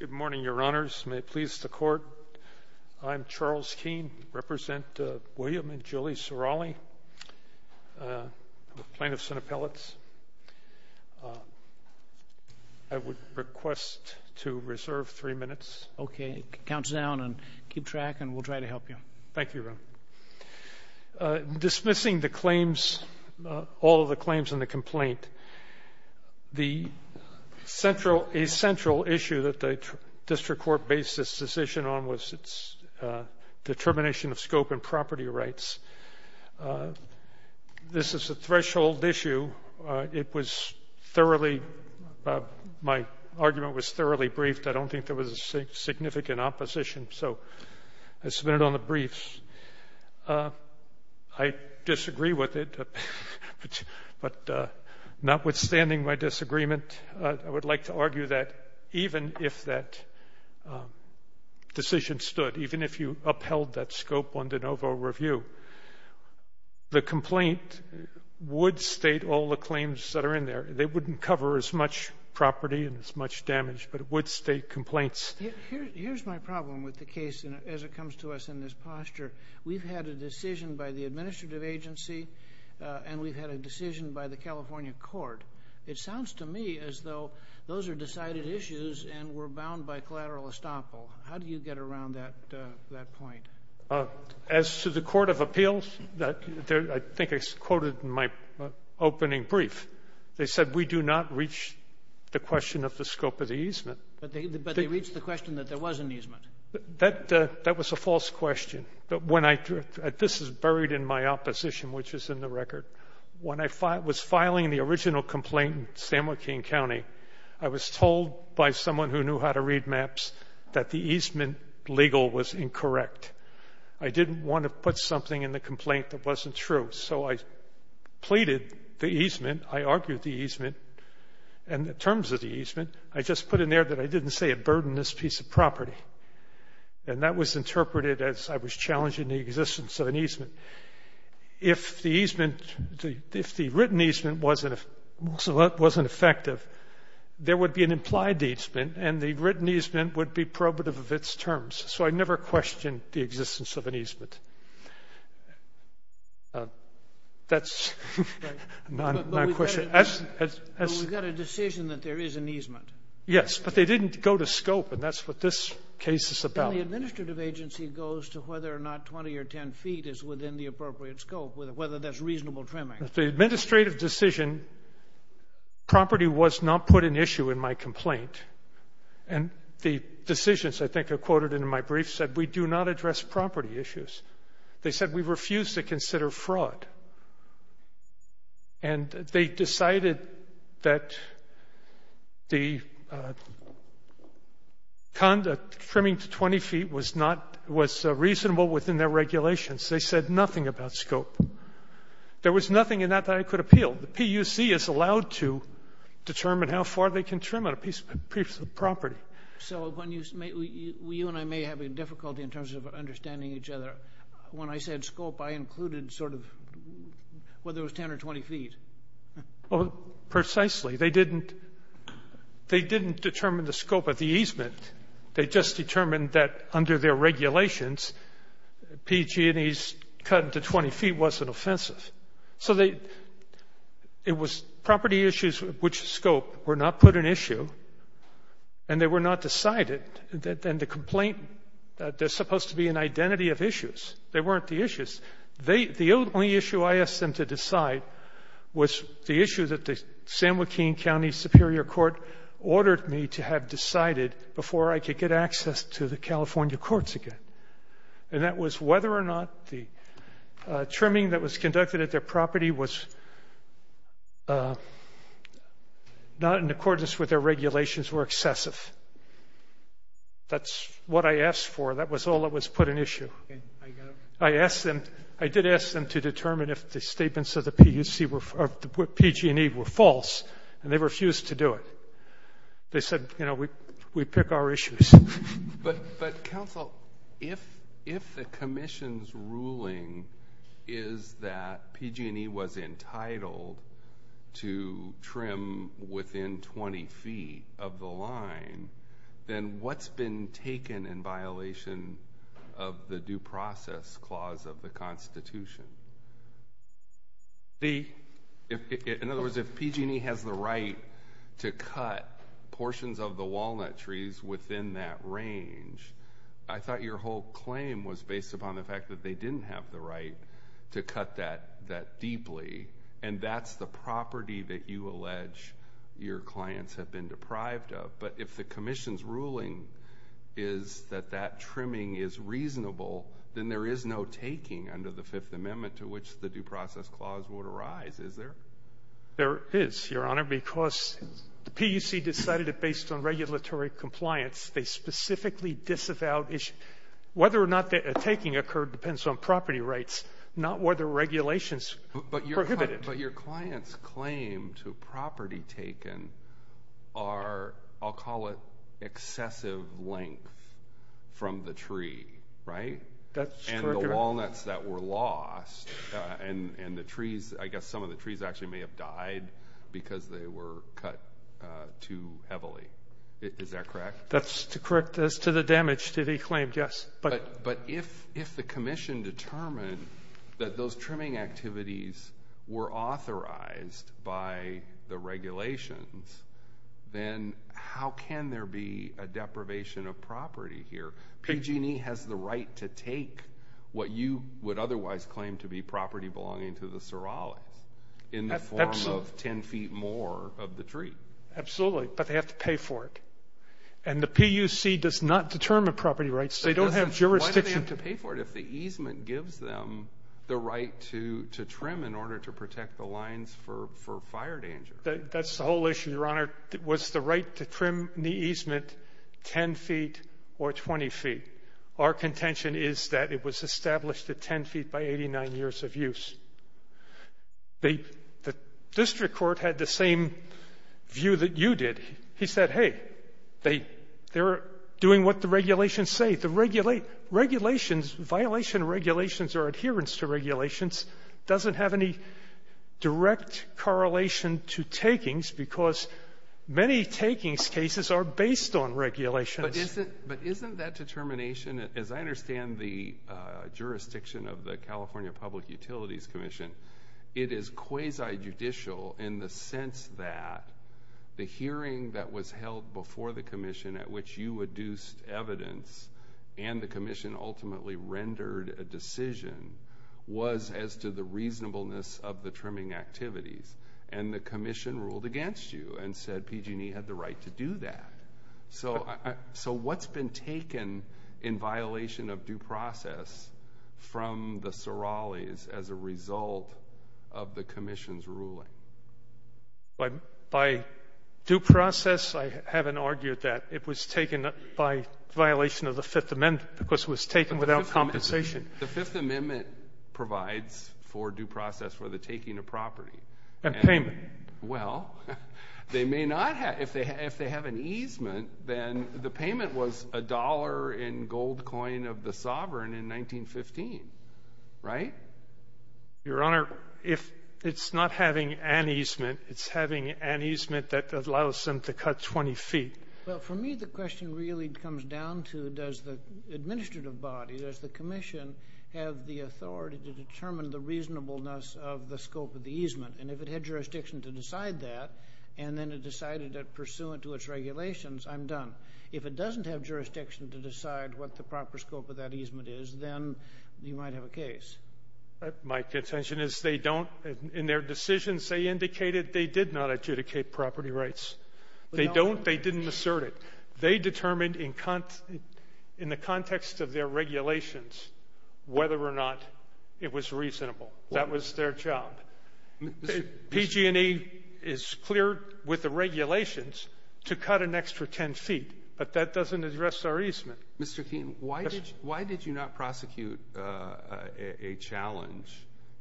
Good morning, your honors. May it please the court. I'm Charles Keene, I represent William and Julie Sarale, plaintiffs and appellates. I would request to reserve three minutes. Okay, count down and keep track and we'll try to help you. Thank you, Ron. Dismissing the claims, all of the claims in the complaint, a central issue that the district court based its decision on was its determination of scope and property rights. This is a threshold issue. It was thoroughly, my argument was thoroughly briefed. I don't think there was a significant opposition, so I submitted on the briefs. I disagree with it, but notwithstanding my disagreement, I would like to argue that even if that decision stood, even if you upheld that scope on de novo review, the complaint would state all the claims that are in there. They wouldn't cover as much property and as much damage, but it would state complaints. Here's my problem with the case as it comes to us in this posture. We've had a decision by the administrative agency and we've had a decision by the California court. It sounds to me as though those are decided issues and we're bound by collateral estoppel. How do you get around that point? As to the court of appeals, I think I quoted in my opening brief, they said we do not reach the question of the scope of the easement. But they reached the question that there was an easement. That was a false question. This is buried in my opposition, which is in the record. When I was filing the original complaint in San Joaquin County, I was told by someone who knew how to read maps that the easement legal was incorrect. I didn't want to put something in the complaint that wasn't true. So I pleaded the easement. I argued the easement and the terms of the easement. I just put in there that I didn't say it burdened this piece of property. And that was interpreted as I was challenging the existence of an easement. If the written easement wasn't effective, there would be an implied easement and the written easement would be probative of its terms. So I never questioned the existence of an easement. That's not a question. But we got a decision that there is an easement. Yes, but they didn't go to scope, and that's what this case is about. The administrative agency goes to whether or not 20 or 10 feet is within the appropriate scope, whether that's reasonable trimming. The administrative decision property was not put in issue in my complaint. And the decisions I think are quoted in my brief said we do not address property issues. They said we refuse to consider fraud. And they decided that the conduct trimming to 20 feet was reasonable within their regulations. They said nothing about scope. There was nothing in that that I could appeal. The PUC is allowed to determine how far they can trim on a piece of property. So you and I may have a difficulty in terms of understanding each other. When I said scope, I included sort of whether it was 10 or 20 feet. Precisely. They didn't determine the scope of the easement. They just determined that under their regulations, PG&E's cut to 20 feet wasn't offensive. So it was property issues which scope were not put in issue, and they were not decided. And the complaint, they're supposed to be an identity of issues. They weren't the issues. The only issue I asked them to decide was the issue that the San Joaquin County Superior Court ordered me to have decided before I could get access to the California courts again. And that was whether or not the trimming that was conducted at their property was not in accordance with their regulations were excessive. That's what I asked for. That was all that was put in issue. I did ask them to determine if the statements of the PG&E were false, and they refused to do it. They said, you know, we pick our issues. But, counsel, if the commission's ruling is that PG&E was entitled to trim within 20 feet of the line, then what's been taken in violation of the due process clause of the Constitution? See, in other words, if PG&E has the right to cut portions of the walnut trees within that range, I thought your whole claim was based upon the fact that they didn't have the right to cut that deeply, and that's the property that you allege your clients have been deprived of. But if the commission's ruling is that that trimming is reasonable, then there is no taking under the Fifth Amendment to which the due process clause would arise, is there? There is, Your Honor, because the PUC decided it based on regulatory compliance. They specifically disavowed issue. Whether or not the taking occurred depends on property rights, not whether regulations prohibit it. But your client's claim to property taken are, I'll call it, excessive length from the tree, right? That's correct, Your Honor. And the walnuts that were lost, and the trees, I guess some of the trees actually may have died because they were cut too heavily. Is that correct? That's correct. As to the damage to the claim, yes. But if the commission determined that those trimming activities were authorized by the regulations, then how can there be a deprivation of property here? PG&E has the right to take what you would otherwise claim to be property belonging to the Sorales in the form of 10 feet more of the tree. Absolutely, but they have to pay for it. And the PUC does not determine property rights. They don't have jurisdiction to pay for it. Why do they have to pay for it if the easement gives them the right to trim in order to protect the lines for fire danger? That's the whole issue, Your Honor, was the right to trim the easement 10 feet or 20 feet. Our contention is that it was established at 10 feet by 89 years of use. The district court had the same view that you did. He said, hey, they're doing what the regulations say. The violations of regulations or adherence to regulations doesn't have any direct correlation to takings because many takings cases are based on regulations. But isn't that determination, as I understand the jurisdiction of the California Public Utilities Commission, it is quasi-judicial in the sense that the hearing that was held before the commission at which you adduced evidence and the commission ultimately rendered a decision was as to the reasonableness of the trimming activities. And the commission ruled against you and said PG&E had the right to do that. So what's been taken in violation of due process from the Sorales as a result of the commission's ruling? By due process, I haven't argued that. It was taken by violation of the Fifth Amendment because it was taken without compensation. The Fifth Amendment provides for due process for the taking of property. And payment. Well, they may not have. If they have an easement, then the payment was a dollar in gold coin of the sovereign in 1915. Right? Your Honor, if it's not having an easement, it's having an easement that allows them to cut 20 feet. Well, for me, the question really comes down to does the administrative body, does the commission have the authority to determine the reasonableness of the scope of the easement? And if it had jurisdiction to decide that and then it decided it pursuant to its regulations, I'm done. If it doesn't have jurisdiction to decide what the proper scope of that easement is, then you might have a case. My contention is they don't. In their decisions, they indicated they did not adjudicate property rights. They don't. They didn't assert it. They determined in the context of their regulations whether or not it was reasonable. That was their job. PG&E is clear with the regulations to cut an extra 10 feet, but that doesn't address our easement. Mr. Keene, why did you not prosecute a challenge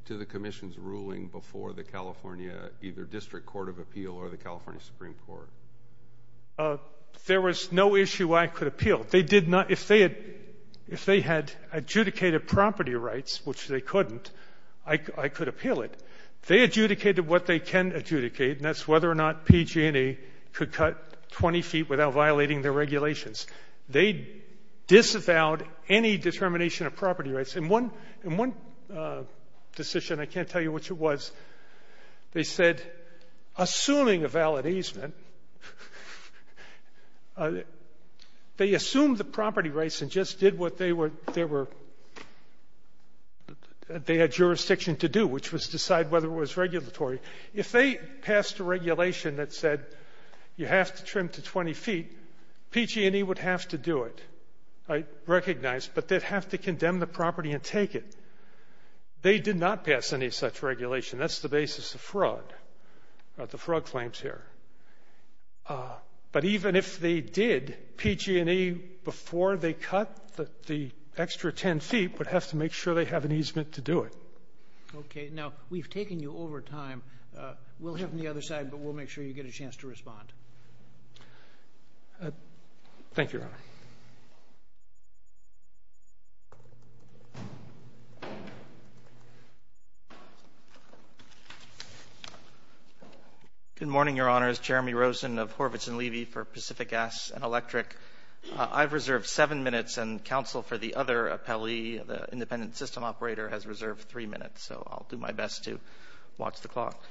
to the commission's ruling before the California either district court of appeal or the California Supreme Court? There was no issue I could appeal. They did not. If they had adjudicated property rights, which they couldn't, I could appeal it. They adjudicated what they can adjudicate, and that's whether or not PG&E could cut 20 feet without violating their regulations. They disavowed any determination of property rights. In one decision, I can't tell you which it was, they said, assuming a valid easement, they assumed the property rights and just did what they had jurisdiction to do, which was decide whether it was regulatory. If they passed a regulation that said you have to trim to 20 feet, PG&E would have to do it. I recognize, but they'd have to condemn the property and take it. They did not pass any such regulation. That's the basis of the fraud claims here. But even if they did, PG&E, before they cut the extra 10 feet, would have to make sure they have an easement to do it. Okay. Now, we've taken you over time. We'll have you on the other side, but we'll make sure you get a chance to respond. Thank you, Your Honor. Good morning, Your Honors. Jeremy Rosen of Horvitz and Levy for Pacific Gas and Electric. I've reserved seven minutes, and counsel for the other appellee, the independent system operator, has reserved three minutes, so I'll do my best to watch the clock.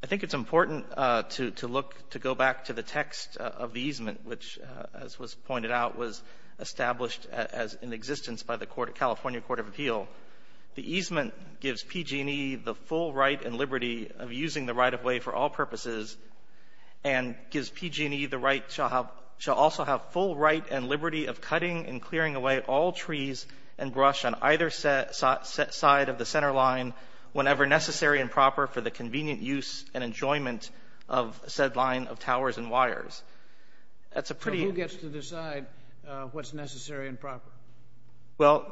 I think it's important to go back to the text of the easement, which, as was pointed out, was established in existence by the California Court of Appeal. The easement gives PG&E the full right and liberty of using the right-of-way for all purposes and gives PG&E the right to also have full right and liberty of cutting and clearing away all trees and brush on either side of the center line whenever necessary and proper for the convenient use and enjoyment of said line of towers and wires. So who gets to decide what's necessary and proper? Well,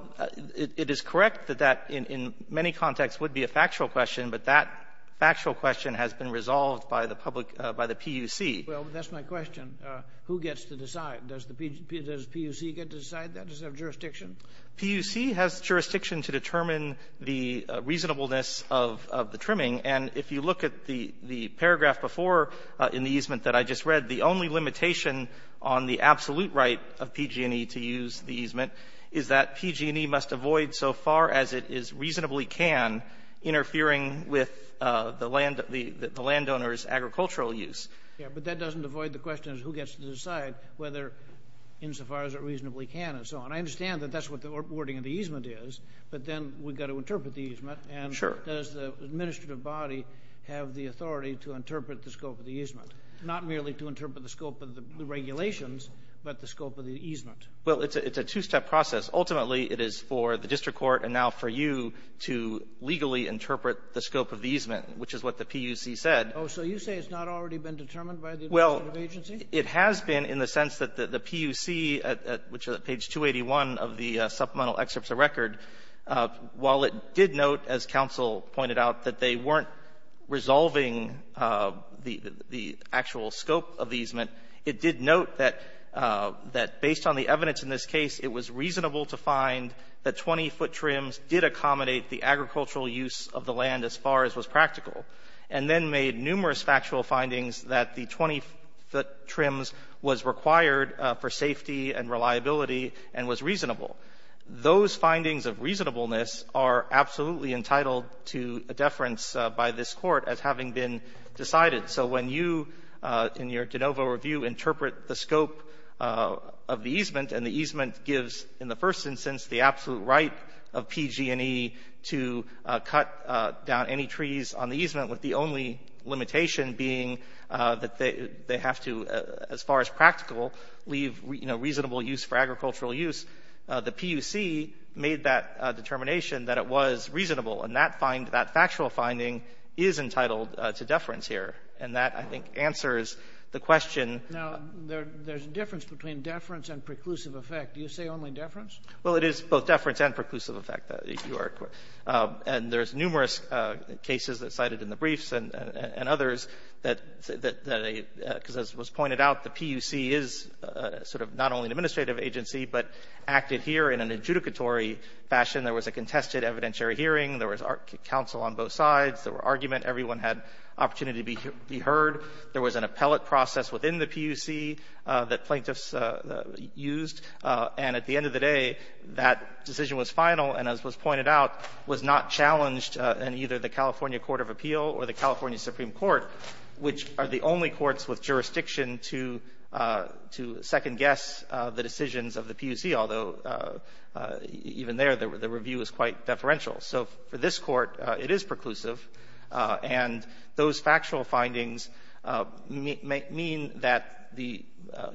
it is correct that that, in many contexts, would be a factual question, but that factual question has been resolved by the PUC. Well, that's my question. Who gets to decide? Does the PUC get to decide that? PUC has jurisdiction to determine the reasonableness of the trimming, and if you look at the paragraph before in the easement that I just read, the only limitation on the absolute right of PG&E to use the easement is that PG&E must avoid, so far as it reasonably can, interfering with the landowner's agricultural use. Yes, but that doesn't avoid the question of who gets to decide, whether insofar as it reasonably can and so on. I understand that that's what the wording of the easement is, but then we've got to interpret the easement. And does the administrative body have the authority to interpret the scope of the easement, not merely to interpret the scope of the regulations but the scope of the easement? Well, it's a two-step process. Ultimately, it is for the district court and now for you to legally interpret the scope of the easement, which is what the PUC said. Oh, so you say it's not already been determined by the administrative agency? Well, it has been in the sense that the PUC, which is at page 281 of the supplemental excerpts of record, while it did note, as counsel pointed out, that they weren't resolving the actual scope of the easement, it did note that based on the evidence in this case, it was reasonable to find that 20-foot trims did accommodate the agricultural use of the land as far as was practical, and then made numerous factual findings that the 20-foot trims was required for safety and reliability and was reasonable. Those findings of reasonableness are absolutely entitled to a deference by this Court as having been decided. So when you, in your de novo review, interpret the scope of the easement and the easement gives, in the first instance, the absolute right of PG&E to cut down any trees on the easement with the only limitation being that they have to, as far as practical, leave reasonable use for agricultural use, the PUC made that determination that it was reasonable, and that factual finding is entitled to deference here. And that, I think, answers the question. Now, there's a difference between deference and preclusive effect. Do you say only deference? Well, it is both deference and preclusive effect, Your Honor. And there's numerous cases that cited in the briefs and others that, because as was pointed out, the PUC is sort of not only an administrative agency but acted here in an adjudicatory fashion. There was a contested evidentiary hearing. There was counsel on both sides. There were arguments. Everyone had opportunity to be heard. There was an appellate process within the PUC that plaintiffs used. And at the end of the day, that decision was final and, as was pointed out, was not challenged in either the California Court of Appeal or the California Supreme Court, which are the only courts with jurisdiction to second-guess the decisions of the PUC, although even there the review is quite deferential. So for this court, it is preclusive. And those factual findings mean that the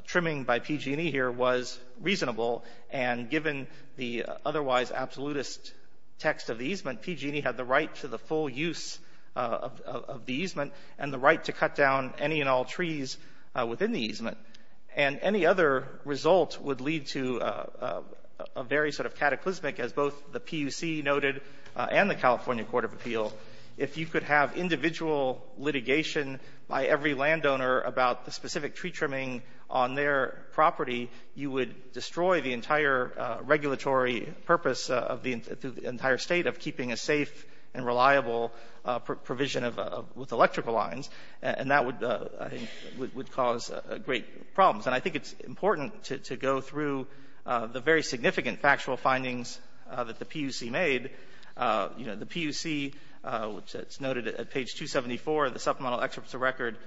trimming by PG&E here was reasonable. And given the otherwise absolutist text of the easement, PG&E had the right to the full use of the easement and the right to cut down any and all trees within the easement. And any other result would lead to a very sort of cataclysmic, as both the PUC noted and the California Court of Appeal, if you could have individual litigation by every landowner about the specific tree trimming on their property, you would destroy the entire regulatory purpose of the entire State of keeping a safe and reliable provision of electrical lines. And that would, I think, would cause great problems. And I think it's important to go through the very significant factual findings that the PUC made. You know, the PUC, it's noted at page 274 of the Supplemental Excerpt to Record,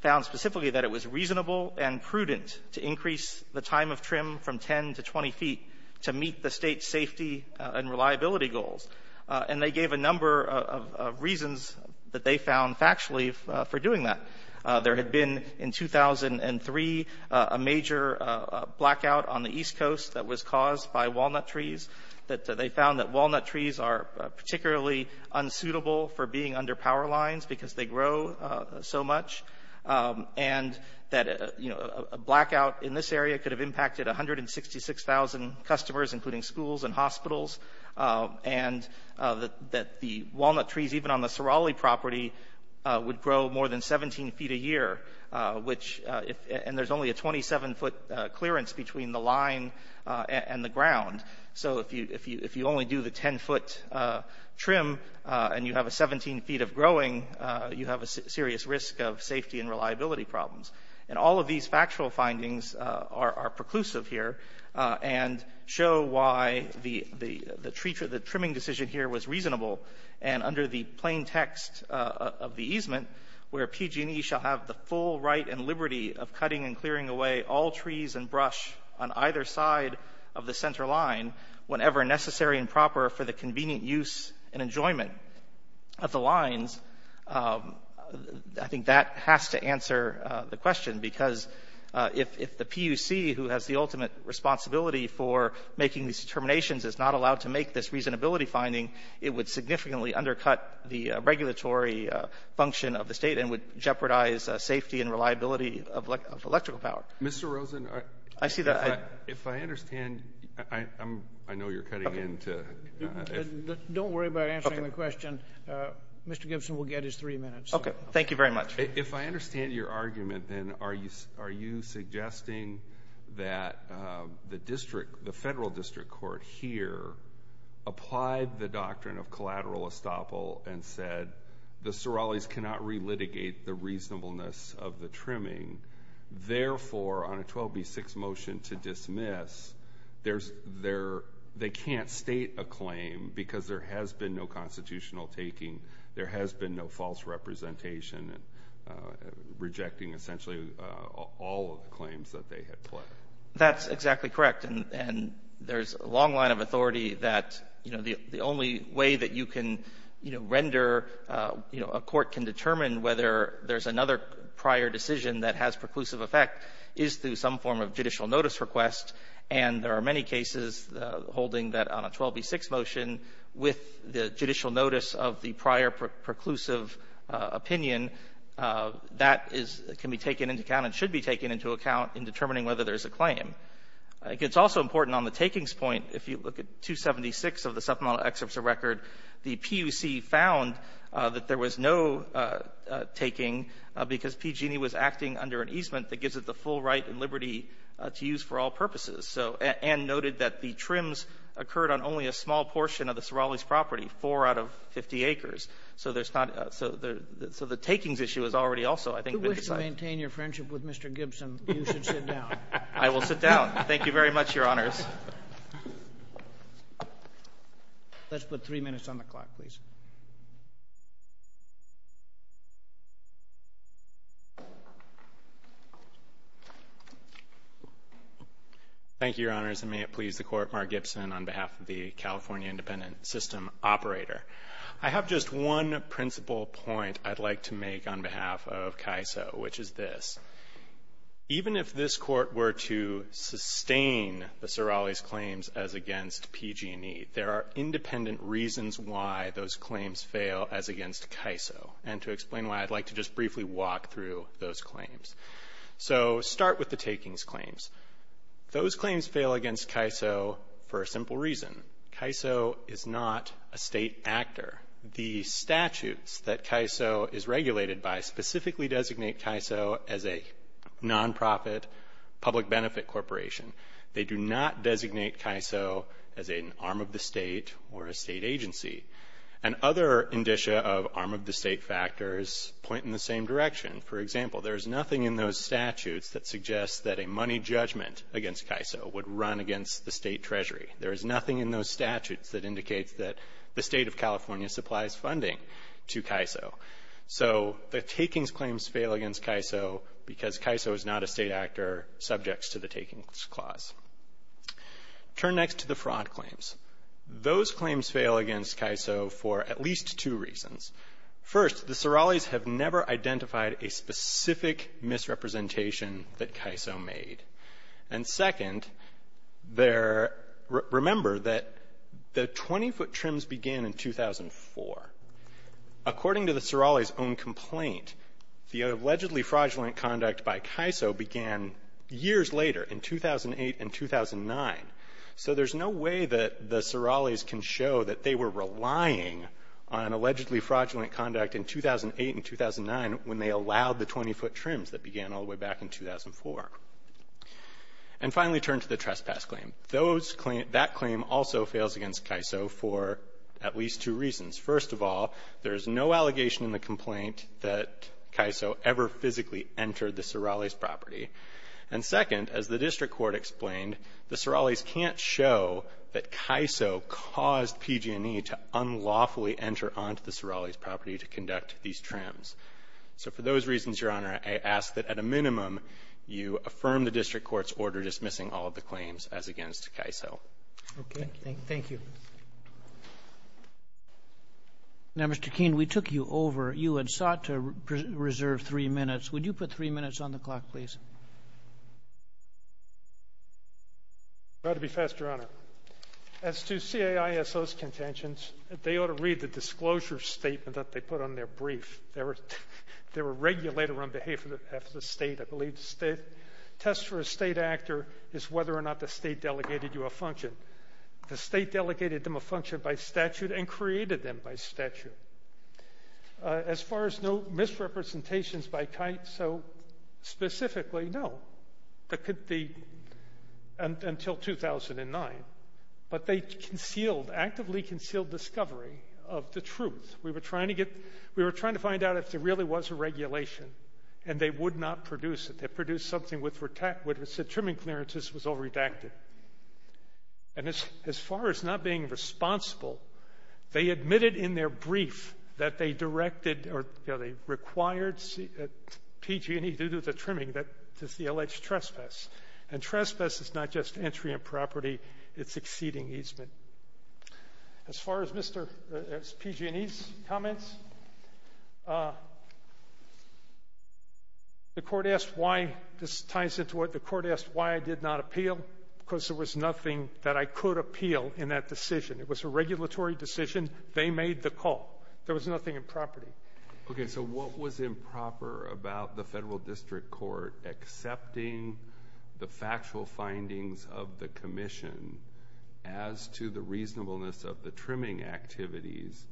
found specifically that it was reasonable and prudent to increase the time of trim from 10 to 20 feet to meet the State's safety and reliability goals. And they gave a number of reasons that they found factually for doing that. There had been in 2003 a major blackout on the East Coast that was caused by walnut trees, that they found that walnut trees are particularly unsuitable for being under power lines because they grow so much, and that a blackout in this area could have impacted 166,000 customers, including schools and hospitals, and that the walnut trees, even on the Sorale property, would grow more than 17 feet a year, which – and there's only a 27-foot clearance between the line and the ground. So if you only do the 10-foot trim and you have a 17 feet of growing, you have a serious risk of safety and reliability problems. And all of these factual findings are preclusive here and show why the trimming decision here was reasonable. And under the plain text of the easement, where PG&E shall have the full right and liberty of cutting and clearing away all trees and brush on either side of the center line whenever necessary and proper for the convenient use and enjoyment of the lines, I think that has to answer the question, because if the PUC, who has the ultimate responsibility for making these determinations, is not allowed to make this reasonability finding, it would significantly undercut the regulatory function of the state and would jeopardize safety and reliability of electrical power. Mr. Rosen, if I understand – I know you're cutting in to – Don't worry about answering the question. Mr. Gibson will get his three minutes. Okay. Thank you very much. If I understand your argument, then are you suggesting that the district, the district applied the doctrine of collateral estoppel and said the Sorales cannot relitigate the reasonableness of the trimming, therefore, on a 12B6 motion to dismiss, there's – they can't state a claim because there has been no constitutional taking, there has been no false representation, rejecting essentially all of the claims that they had put. That's exactly correct, and there's a long line of authority that, you know, the only way that you can, you know, render, you know, a court can determine whether there's another prior decision that has preclusive effect is through some form of judicial notice request, and there are many cases holding that on a 12B6 motion with the judicial notice of the prior preclusive opinion, that is – can be used as a claim. I think it's also important on the takings point. If you look at 276 of the supplemental excerpts of record, the PUC found that there was no taking because PG&E was acting under an easement that gives it the full right and liberty to use for all purposes. So – and noted that the trims occurred on only a small portion of the Sorales property, four out of 50 acres. So there's not – so the takings issue is already also, I think, been decided. If you want to maintain your friendship with Mr. Gibson, you should sit down. I will sit down. Thank you very much, Your Honors. Let's put three minutes on the clock, please. Thank you, Your Honors, and may it please the Court, Mark Gibson on behalf of the California Independent System operator. I have just one principal point I'd like to make on behalf of CAISO, which is this. Even if this Court were to sustain the Sorales claims as against PG&E, there are independent reasons why those claims fail as against CAISO, and to explain why, I'd like to just briefly walk through those claims. So start with the takings claims. Those claims fail against CAISO for a simple reason. CAISO is not a state actor. The statutes that CAISO is regulated by specifically designate CAISO as a nonprofit public benefit corporation. They do not designate CAISO as an arm of the state or a state agency. And other indicia of arm of the state factors point in the same direction. For example, there is nothing in those statutes that suggests that a money judgment against CAISO would run against the state treasury. There is nothing in those statutes that indicates that the state of California supplies funding to CAISO. So the takings claims fail against CAISO because CAISO is not a state actor subject to the takings clause. Turn next to the fraud claims. Those claims fail against CAISO for at least two reasons. First, the Sorales have never identified a specific misrepresentation that CAISO made. And second, remember that the 20-foot trims began in 2004. According to the Sorales' own complaint, the allegedly fraudulent conduct by CAISO began years later in 2008 and 2009. So there's no way that the Sorales can show that they were relying on allegedly fraudulent conduct in 2008 and 2009 when they allowed the 20-foot And finally, turn to the trespass claim. That claim also fails against CAISO for at least two reasons. First of all, there is no allegation in the complaint that CAISO ever physically entered the Sorales' property. And second, as the district court explained, the Sorales can't show that CAISO caused PG&E to unlawfully enter onto the Sorales' property to conduct these trims. So for those reasons, Your Honor, I ask that at a minimum you affirm the district court's order dismissing all of the claims as against CAISO. Okay. Thank you. Now, Mr. Keene, we took you over. You had sought to reserve three minutes. Would you put three minutes on the clock, please? I'll try to be fast, Your Honor. As to CAISO's contentions, they ought to read the disclosure statement that they put on their brief. They were regulated on behalf of the state. I believe the test for a state actor is whether or not the state delegated you a function. The state delegated them a function by statute and created them by statute. As far as no misrepresentations by CAISO specifically, no, until 2009. But they actively concealed discovery of the truth. We were trying to find out if there really was a regulation, and they would not produce it. They produced something which said trimming clearances was all redacted. And as far as not being responsible, they admitted in their brief that they directed or they required PG&E to do the trimming that is the alleged trespass. And trespass is not just entry in property. It's exceeding easement. As far as PG&E's comments, the court asked why I did not appeal because there was nothing that I could appeal in that decision. It was a regulatory decision. They made the call. There was nothing in property. Okay, so what was improper about the federal district court accepting the factual findings of the commission as to the reasonableness of the trimming activities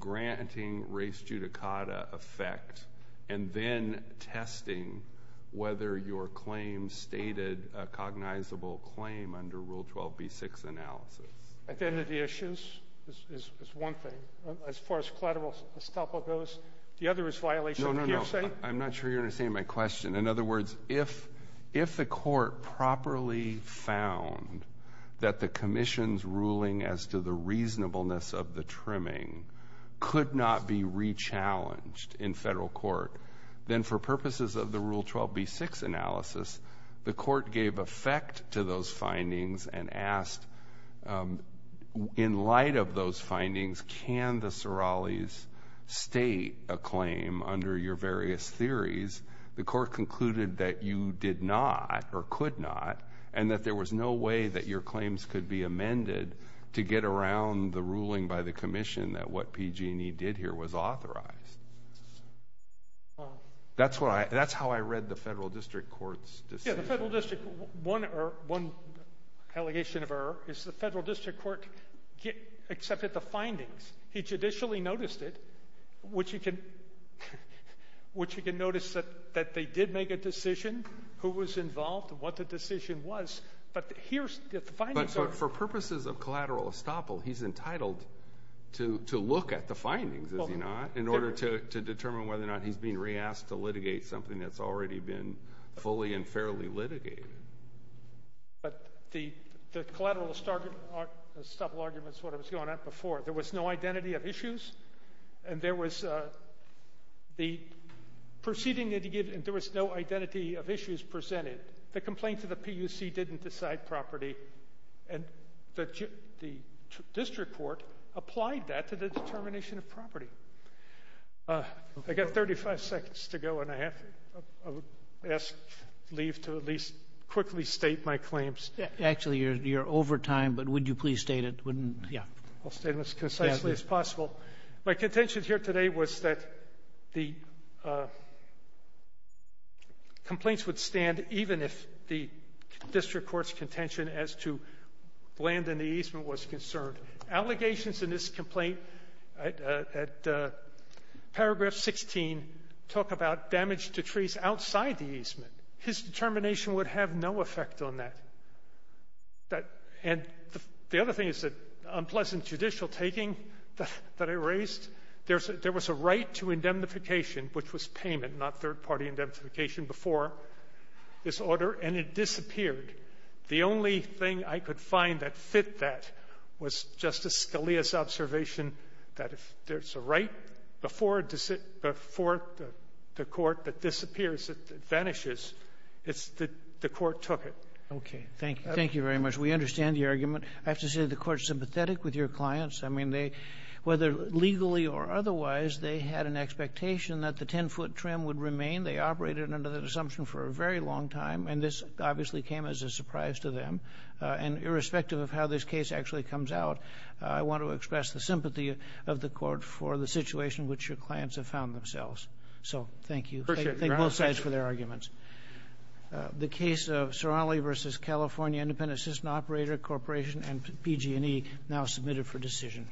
granting race judicata effect and then testing whether your claim stated a cognizable claim under Rule 12b-6 analysis? Identity issues is one thing. As far as collateral stuff goes, the other is violation of hearsay. No, no, no. I'm not sure you understand my question. In other words, if the court properly found that the commission's ruling as to the reasonableness of the trimming could not be re-challenged in federal court, then for purposes of the Rule 12b-6 analysis, the court gave effect to those findings and asked in light of those findings, can the Sorales state a claim under your various theories? The court concluded that you did not or could not and that there was no way that your claims could be amended to get around the ruling by the commission that what PG&E did here was authorized. That's how I read the federal district court's decision. One allegation of error is the federal district court accepted the findings. He judicially noticed it, which you can notice that they did make a decision, who was involved and what the decision was, but here's the findings. But for purposes of collateral estoppel, he's entitled to look at the findings, is he not, in order to determine whether or not he's being re-asked to litigate something that's already been fully and fairly litigated. But the collateral estoppel argument is what was going on before. There was no identity of issues, and there was no identity of issues presented. The complaint to the PUC didn't decide property, and the district court applied that to the determination of property. I've got 35 seconds to go, and I have to leave to at least quickly state my claims. Actually, you're over time, but would you please state it? I'll state them as concisely as possible. My contention here today was that the complaints would stand even if the district court's contention as to land in the easement was concerned. Allegations in this complaint at paragraph 16 talk about damage to trees outside the easement. His determination would have no effect on that. And the other thing is that unpleasant judicial taking that I raised, there was a right to indemnification, which was payment, not third-party indemnification, before this order, and it disappeared. The only thing I could find that fit that was Justice Scalia's observation that if there's a right before the court that disappears, it vanishes. The court took it. Okay, thank you. Thank you very much. We understand the argument. I have to say the court's sympathetic with your clients. I mean, whether legally or otherwise, they had an expectation that the 10-foot trim would remain. They operated under that assumption for a very long time, and this obviously came as a surprise to them. And irrespective of how this case actually comes out, I want to express the sympathy of the court for the situation which your clients have found themselves. So thank you. Thank both sides for their arguments. The case of Ceronelli v. California Independent Assistant Operator Corporation and PG&E now submitted for decision.